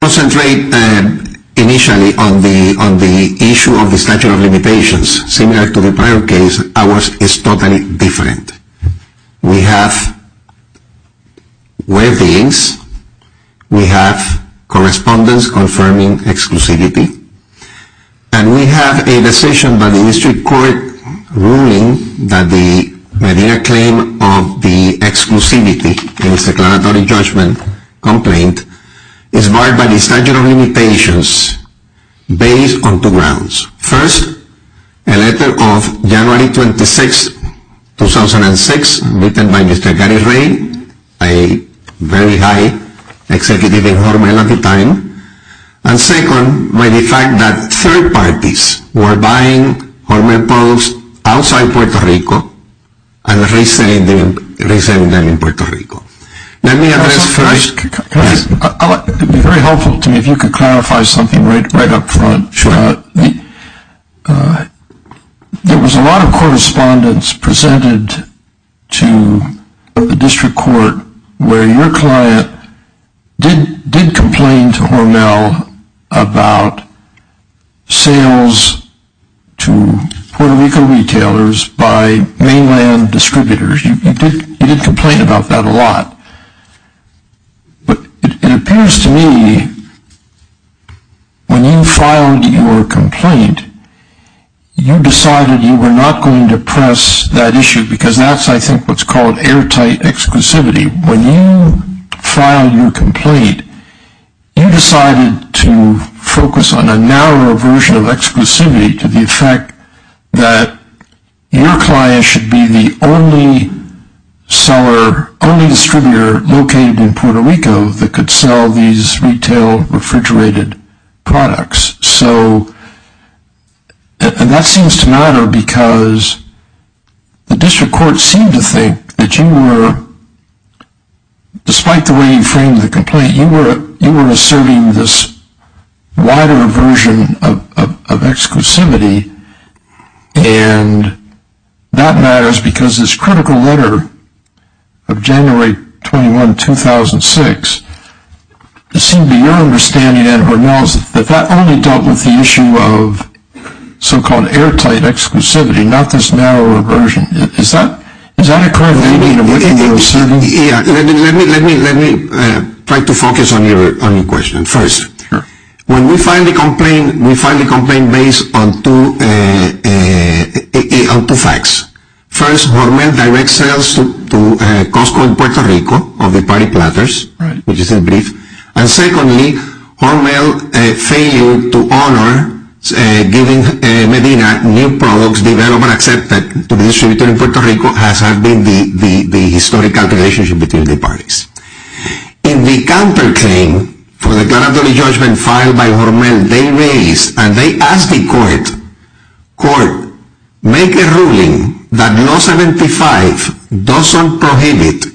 I want to concentrate initially on the issue of the statute of limitations. Similar to the prior case, ours is totally different. We have weddings, we have correspondence confirming exclusivity, and we have a decision by the district court ruling that the Medina claim of the exclusivity in its declaratory judgment complaint is barred by the statute of limitations based on two grounds. First, a letter of January 26, 2006, written by Mr. Gary Ray, a very high executive in Hormel at the time. And second, by the fact that third parties were buying Hormel products outside Puerto Rico and reselling them in Puerto Rico. It would be very helpful to me if you could clarify something right up front. There was a lot of correspondence presented to the district court where your client did complain to Hormel about sales to Puerto Rico retailers by mainland distributors. You did complain about that a lot. But it appears to me when you filed your complaint, you decided you were not going to press that issue because that's, I think, what's called airtight exclusivity. When you filed your complaint, you decided to focus on a narrower version of exclusivity to the effect that your client should be the only seller, only distributor located in Puerto Rico that could sell these retail refrigerated products. And that seems to matter because the district court seemed to think that you were, despite the way you framed the complaint, you were asserting this wider version of exclusivity and that matters because this critical letter of January 21, 2006, it seemed to be your understanding at Hormel that that only dealt with the issue of so-called airtight exclusivity, not this narrower version. Is that a correlation? Let me try to focus on your question. First, when we file a complaint, we file a complaint based on two facts. First, Hormel directs sales to Costco in Puerto Rico of the party platters, which is in brief. And secondly, Hormel failed to honor giving Medina new products developed and accepted to be distributed in Puerto Rico, as has been the historical relationship between the parties. In the counterclaim for the regulatory judgment filed by Hormel, they raised and they asked the court, court, make a ruling that law 75 doesn't prohibit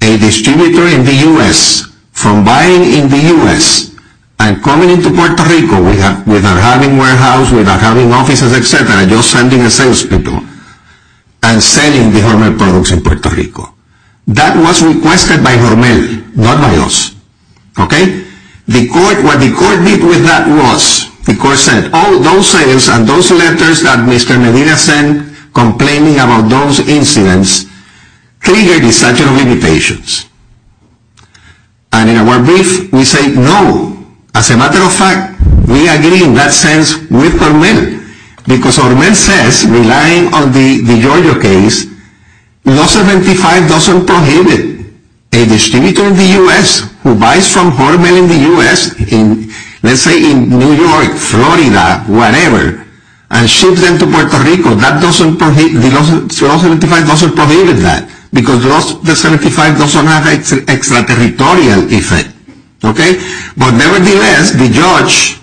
a distributor in the U.S. from buying in the U.S. and coming into Puerto Rico without having warehouse, without having offices, etc., just sending a sales people and selling the Hormel products in Puerto Rico. That was requested by Hormel, not by us. Okay? What the court did with that was the court said, oh, those sales and those letters that Mr. Medina sent complaining about those incidents triggered the statute of limitations. And in our brief, we say, no, as a matter of fact, we agree in that sense with Hormel, because Hormel says, relying on the Georgia case, law 75 doesn't prohibit a distributor in the U.S. who buys from Hormel in the U.S., let's say in New York, Florida, whatever, and ships them to Puerto Rico. That doesn't prohibit, law 75 doesn't prohibit that, because law 75 doesn't have an extraterritorial effect. Okay? But nevertheless, the judge,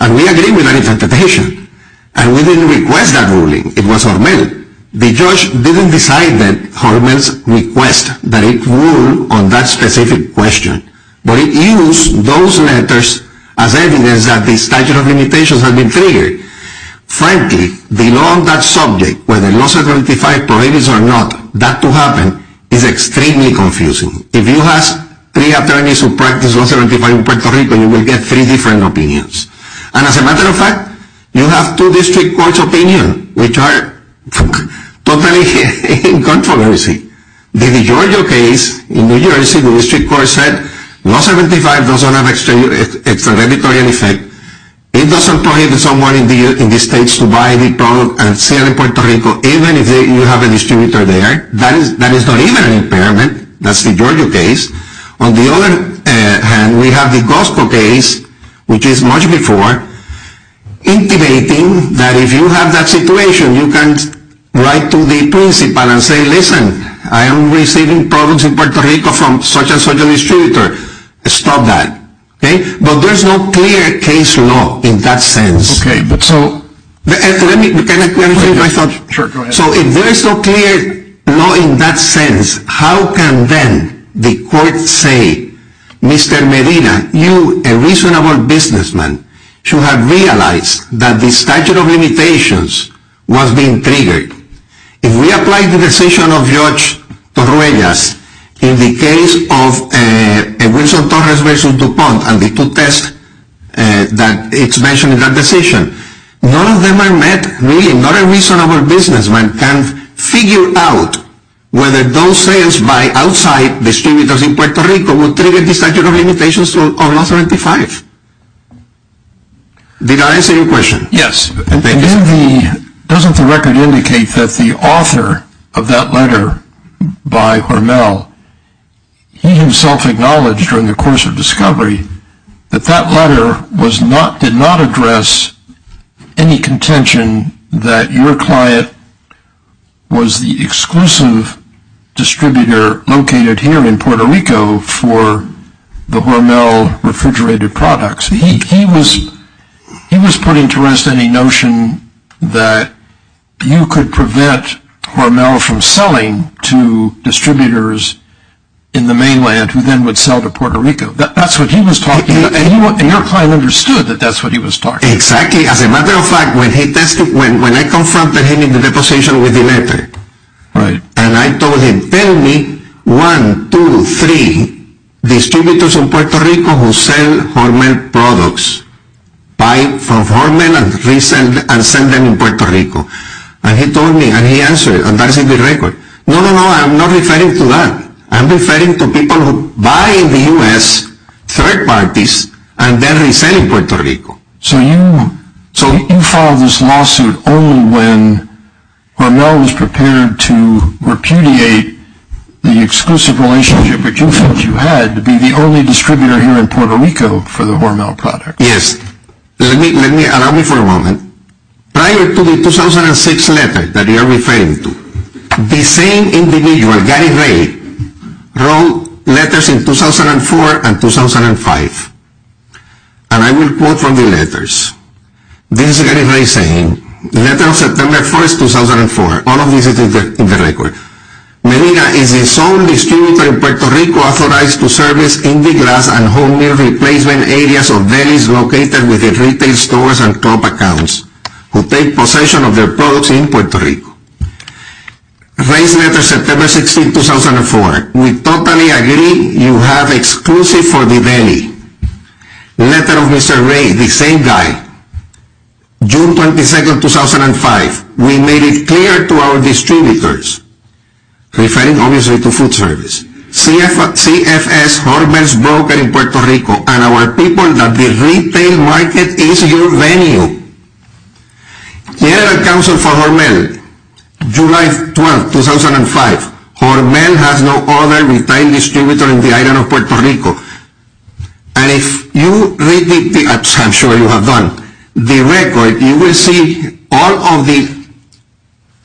and we agree with that interpretation, and we didn't request that ruling. It was Hormel. The judge didn't decide that Hormel's request that it ruled on that specific question, but it used those letters as evidence that the statute of limitations had been triggered. Frankly, the law on that subject, whether law 75 prohibits or not that to happen, is extremely confusing. If you ask three attorneys who practice law 75 in Puerto Rico, you will get three different opinions. And as a matter of fact, you have two district courts' opinions, which are totally incontroversy. The Georgia case in New Jersey, the district court said, law 75 doesn't have an extraterritorial effect. It doesn't prohibit someone in the States to buy the product and sell it in Puerto Rico, even if you have a distributor there. That is not even an impairment. That's the Georgia case. On the other hand, we have the Costco case, which is much before, intimating that if you have that situation, you can write to the principal and say, listen, I am receiving products in Puerto Rico from such and such a distributor. Stop that. Okay? But there's no clear case law in that sense. So if there is no clear law in that sense, how can then the court say, Mr. Medina, you, a reasonable businessman, should have realized that the statute of limitations was being triggered? If we apply the decision of Judge Torruegas in the case of Wilson-Torres v. DuPont and the two tests that it's mentioned in that decision, none of them are met, really. Not a reasonable businessman can figure out whether those sales by outside distributors in Puerto Rico will trigger the statute of limitations on law 75. Did I answer your question? Yes. Doesn't the record indicate that the author of that letter by Hormel, he himself acknowledged during the course of discovery that that letter did not address any contention that your client was the exclusive distributor located here in Puerto Rico for the Hormel refrigerated products? He was putting to rest any notion that you could prevent Hormel from selling to distributors in the mainland who then would sell to Puerto Rico. That's what he was talking about, and your client understood that that's what he was talking about. Exactly. As a matter of fact, when I confronted him in the deposition with the letter, and I told him, tell me one, two, three distributors in Puerto Rico who sell Hormel products, buy from Hormel and resell them in Puerto Rico. And he told me, and he answered, and that is in the record. No, no, no, I'm not referring to that. I'm referring to people who buy in the U.S., third parties, and then resell in Puerto Rico. So you filed this lawsuit only when Hormel was prepared to repudiate the exclusive relationship that you felt you had to be the only distributor here in Puerto Rico for the Hormel products. Yes. Allow me for a moment. Prior to the 2006 letter that you are referring to, the same individual, Gary Ray, wrote letters in 2004 and 2005. And I will quote from the letters. This is Gary Ray saying, Letter of September 1st, 2004. All of this is in the record. Medina is the sole distributor in Puerto Rico authorized to service Indiglass and Hormel replacement areas of delis located within retail stores and club accounts who take possession of their products in Puerto Rico. Ray's letter, September 16, 2004. We totally agree you have exclusive for the deli. Letter of Mr. Ray, the same guy, June 22, 2005. We made it clear to our distributors, referring obviously to food service, CFS Hormel's broker in Puerto Rico and our people that the retail market is your venue. General Counsel for Hormel, July 12, 2005. Hormel has no other retail distributor in the island of Puerto Rico. And if you read the, I'm sure you have done, the record, you will see all of the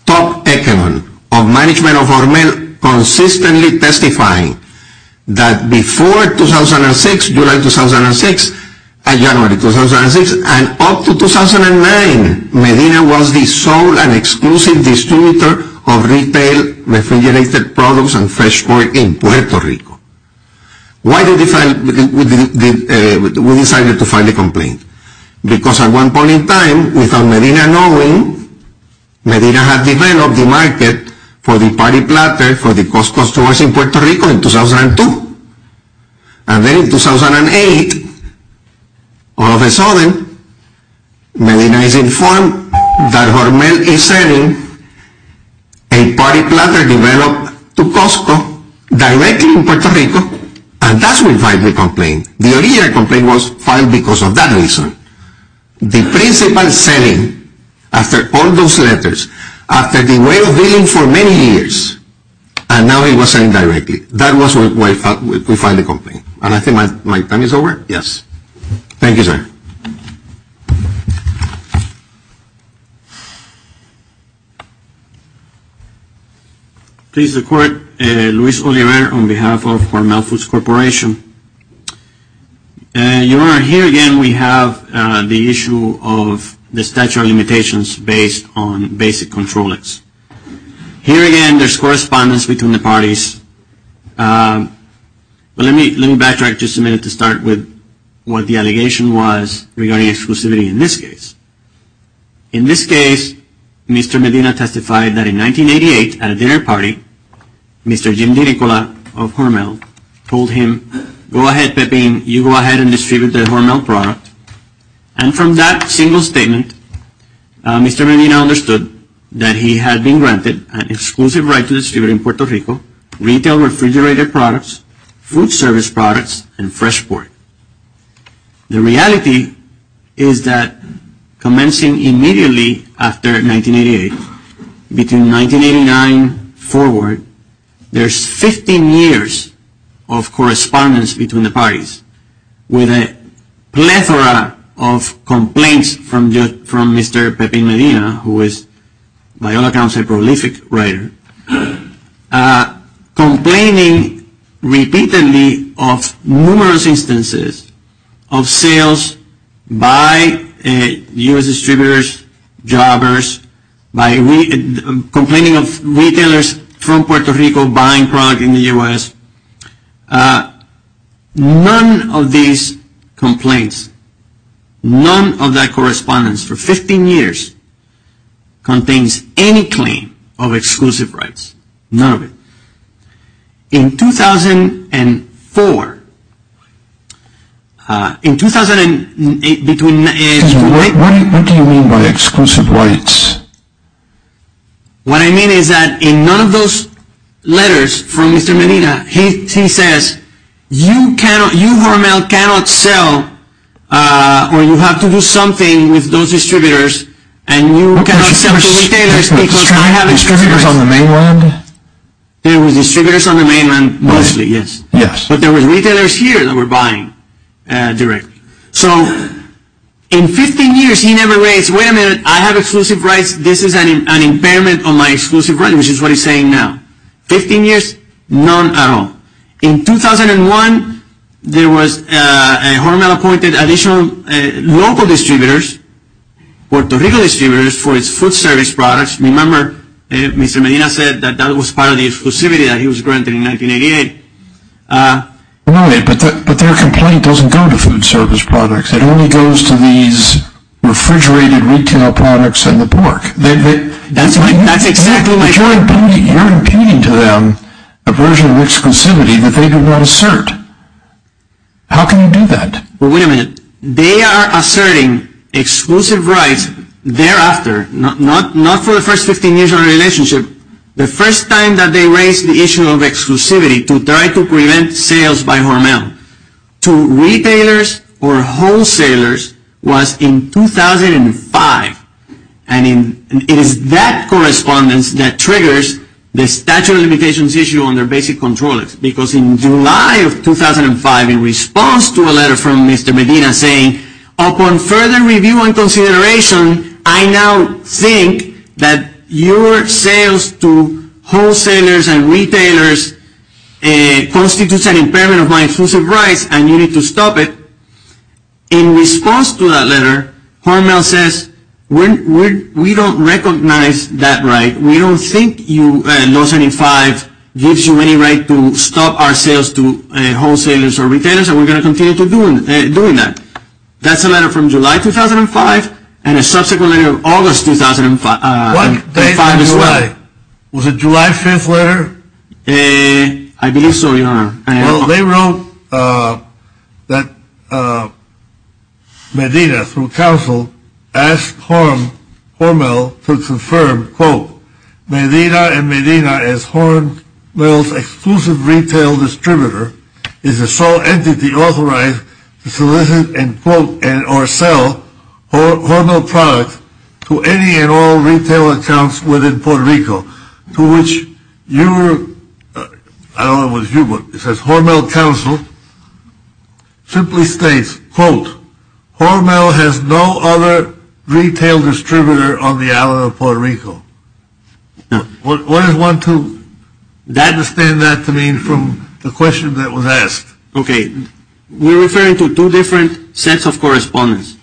top echelons of management of Hormel consistently testifying that before 2006, July 2006, and January 2006, and up to 2009, Medina was the sole and exclusive distributor of retail refrigerated products and fresh pork in Puerto Rico. Why did we decide to file a complaint? Because at one point in time, without Medina knowing, Medina had developed the market for the party platter for the Costco stores in Puerto Rico in 2002. And then in 2008, all of a sudden, Medina is informed that Hormel is selling a party platter developed to Costco directly in Puerto Rico, and that's when we filed the complaint. The original complaint was filed because of that reason. The principal selling, after all those letters, after the way of dealing for many years, and now it was selling directly. That was why we filed the complaint. And I think my time is over? Yes. Thank you, sir. Please, the court. Luis Oliver on behalf of Hormel Foods Corporation. Your Honor, here again we have the issue of the statute of limitations based on basic control acts. Here again, there's correspondence between the parties. Let me backtrack just a minute to start with what the allegation was regarding exclusivity in this case. In this case, Mr. Medina testified that in 1988 at a dinner party, Mr. Jim DeNicola of Hormel told him, go ahead, Pepin, you go ahead and distribute the Hormel product. And from that single statement, Mr. Medina understood that he had been granted an exclusive right to distribute in Puerto Rico retail refrigerator products, food service products, and fresh pork. The reality is that commencing immediately after 1988, between 1989 forward, there's 15 years of correspondence between the parties with a plethora of complaints from Mr. Pepin Medina, who is by all accounts a prolific writer, complaining repeatedly of numerous instances of sales by U.S. distributors, jobbers, complaining of retailers from Puerto Rico buying product in the U.S. None of these complaints, none of that correspondence for 15 years contains any claim of exclusive rights. None of it. In 2004, in 2008 between... Excuse me, what do you mean by exclusive rights? What I mean is that in none of those letters from Mr. Medina, he says, you cannot, you Hormel cannot sell or you have to do something with those distributors and you cannot sell to retailers because I have distributors. Distributors on the mainland? There were distributors on the mainland mostly, yes. Yes. But there were retailers here that were buying directly. So in 15 years, he never raised, wait a minute, I have exclusive rights, this is an impairment on my exclusive rights, which is what he's saying now. 15 years, none at all. In 2001, there was a Hormel appointed additional local distributors, Puerto Rico distributors for its food service products. Remember, Mr. Medina said that that was part of the exclusivity that he was granting in 1988. Wait a minute, but their complaint doesn't go to food service products, it only goes to these refrigerated retail products and the pork. That's exactly what... You're impugning to them a version of exclusivity that they did not assert. How can you do that? But wait a minute, they are asserting exclusive rights thereafter, not for the first 15 years of the relationship, the first time that they raised the issue of exclusivity to try to prevent sales by Hormel to retailers or wholesalers was in 2005. And it is that correspondence that triggers the statute of limitations issue on their basic controls because in July of 2005, in response to a letter from Mr. Medina saying, upon further review and consideration, I now think that your sales to wholesalers and retailers constitutes an impairment of my exclusive rights and you need to stop it. In response to that letter, Hormel says, we don't recognize that right. We don't think you, in 2005, gives you any right to stop our sales to wholesalers or retailers and we're going to continue doing that. That's a letter from July 2005 and a subsequent letter in August 2005 as well. Was it July 5th letter? I believe so, your honor. They wrote that Medina, through counsel, asked Hormel to confirm, quote, Medina and Medina as Hormel's exclusive retail distributor is the sole entity authorized to solicit and quote and or sell Hormel products to any and all retail accounts within Puerto Rico, to which your, I don't know if it was you, but it says Hormel counsel simply states, quote, Hormel has no other retail distributor on the island of Puerto Rico. What does one to understand that to mean from the question that was asked? Okay. We're referring to two different sets of correspondence.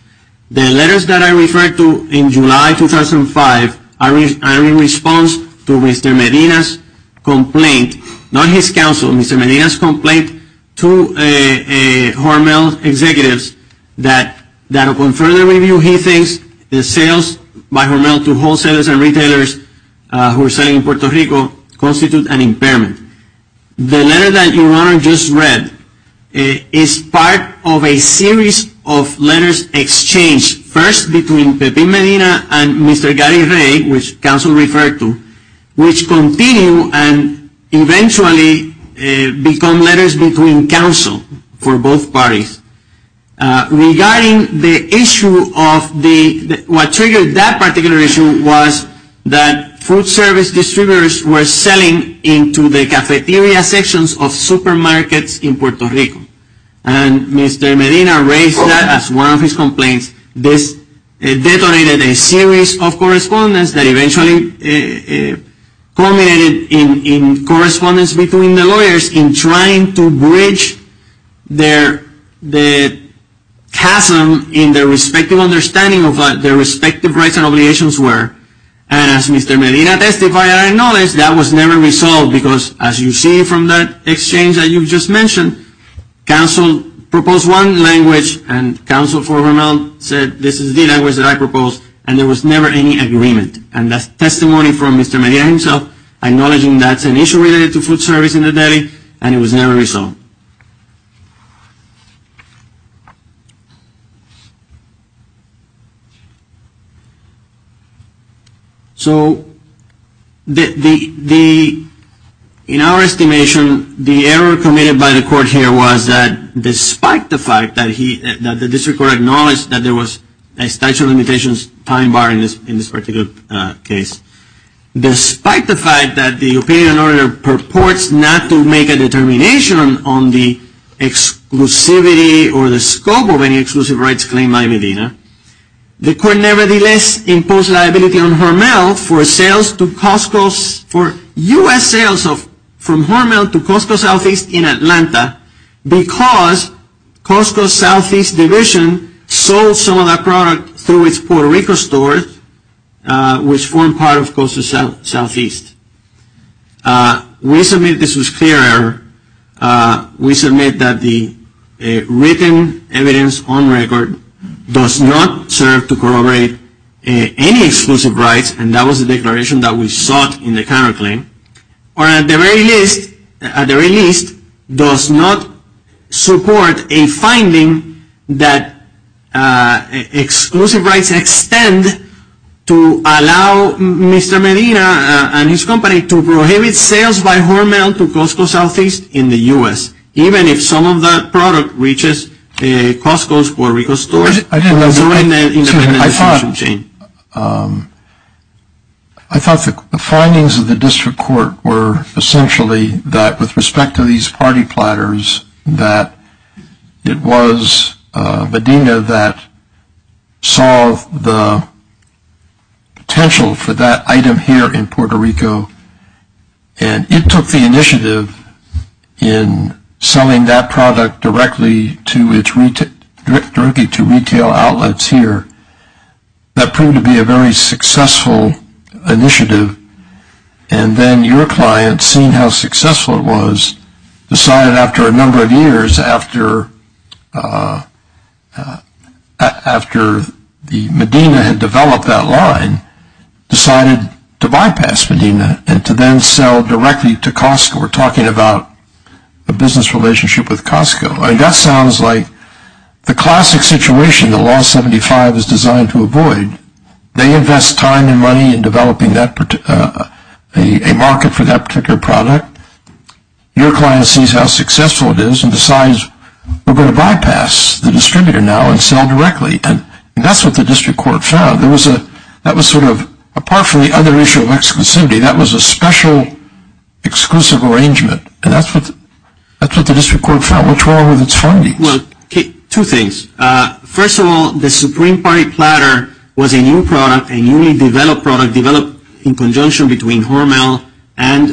The letters that I referred to in July 2005 are in response to Mr. Medina's complaint, not his counsel, Mr. Medina's complaint to Hormel executives that upon further review, he thinks the sales by Hormel to wholesalers and retailers who are selling in Puerto Rico constitute an impairment. The letter that your honor just read is part of a series of letters exchanged, first between Pepin Medina and Mr. Gary Ray, which counsel referred to, which continue and eventually become letters between counsel for both parties. Regarding the issue of the, what triggered that particular issue was that food service distributors were selling into the cafeteria sections of supermarkets in Puerto Rico. And Mr. Medina raised that as one of his complaints. This detonated a series of correspondence that eventually culminated in correspondence between the lawyers in trying to bridge the chasm in their respective understanding of what their respective rights and obligations were. And as Mr. Medina testified, I acknowledge that was never resolved because as you see from that exchange that you just mentioned, counsel proposed one language and counsel for Hormel said this is the language that I proposed and there was never any agreement. And that's testimony from Mr. Medina himself acknowledging that's an issue related to food service in the deli and it was never resolved. So in our estimation, the error committed by the court here was that despite the fact that the district court acknowledged that there was a statute of limitations time bar in this particular case, despite the fact that the opinion order purports not to make a determination on the exclusivity or the scope of any exclusive rights claim by Medina, the court nevertheless imposed liability on Hormel for sales to Costco, for U.S. sales from Hormel to Costco Southeast in Atlanta because Costco Southeast division sold some of that product through its Puerto Rico stores which formed part of Costco Southeast. We submit this was clear error. We submit that the written evidence on record does not serve to corroborate any exclusive rights and that was the declaration that we sought in the counterclaim. Or at the very least, does not support a finding that exclusive rights extend to allow Mr. Medina and his company to prohibit sales by Hormel to Costco Southeast in the U.S. even if some of that product reaches Costco's Puerto Rico stores. I thought the findings of the district court were essentially that with respect to these party platters that it was Medina that saw the potential for that item here in Puerto Rico and it took the initiative in selling that product directly to retail outlets here that proved to be a very successful initiative and then your client seeing how successful it was decided after a number of years after Medina had developed that line decided to bypass Medina and to then sell directly to Costco. We're talking about a business relationship with Costco. I mean that sounds like the classic situation that Law 75 is designed to avoid. They invest time and money in developing a market for that particular product. Your client sees how successful it is and decides we're going to bypass the distributor now and sell directly. And that's what the district court found. That was sort of apart from the other issue of exclusivity, that was a special exclusive arrangement. And that's what the district court found. What's wrong with its findings? Two things. First of all, the Supreme Party platter was a new product, a newly developed product developed in conjunction between Hormel and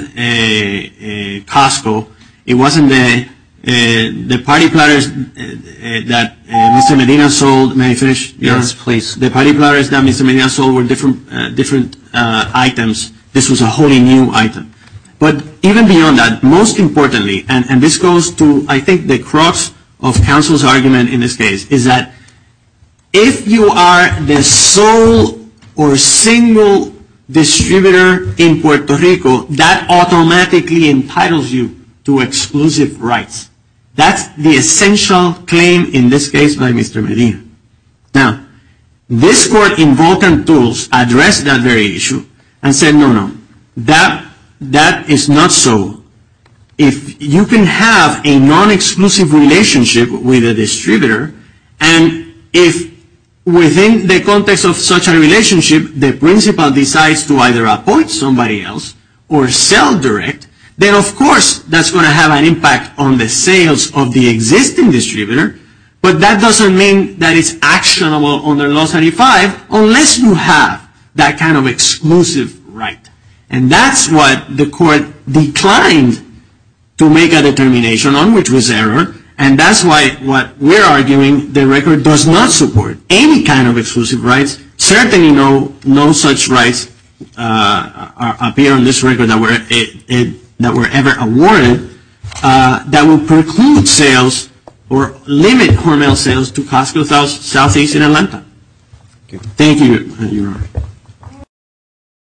Costco. It wasn't the party platters that Mr. Medina sold. May I finish? Yes, please. The party platters that Mr. Medina sold were different items. This was a wholly new item. But even beyond that, most importantly, and this goes to I think the crux of counsel's argument in this case, is that if you are the sole or single distributor in Puerto Rico, that automatically entitles you to exclusive rights. That's the essential claim in this case by Mr. Medina. Now, this court in Vulcan Tools addressed that very issue and said no, no. That is not so. If you can have a non-exclusive relationship with a distributor, and if within the context of such a relationship, the principal decides to either appoint somebody else or sell direct, then of course that's going to have an impact on the sales of the existing distributor. But that doesn't mean that it's actionable under Law 35 unless you have that kind of exclusive right. And that's what the court declined to make a determination on, which was error. And that's why what we're arguing, the record does not support any kind of exclusive rights. Certainly no such rights appear on this record that were ever awarded that would preclude sales or limit Hormel sales to Costco Southeast in Atlanta. Thank you.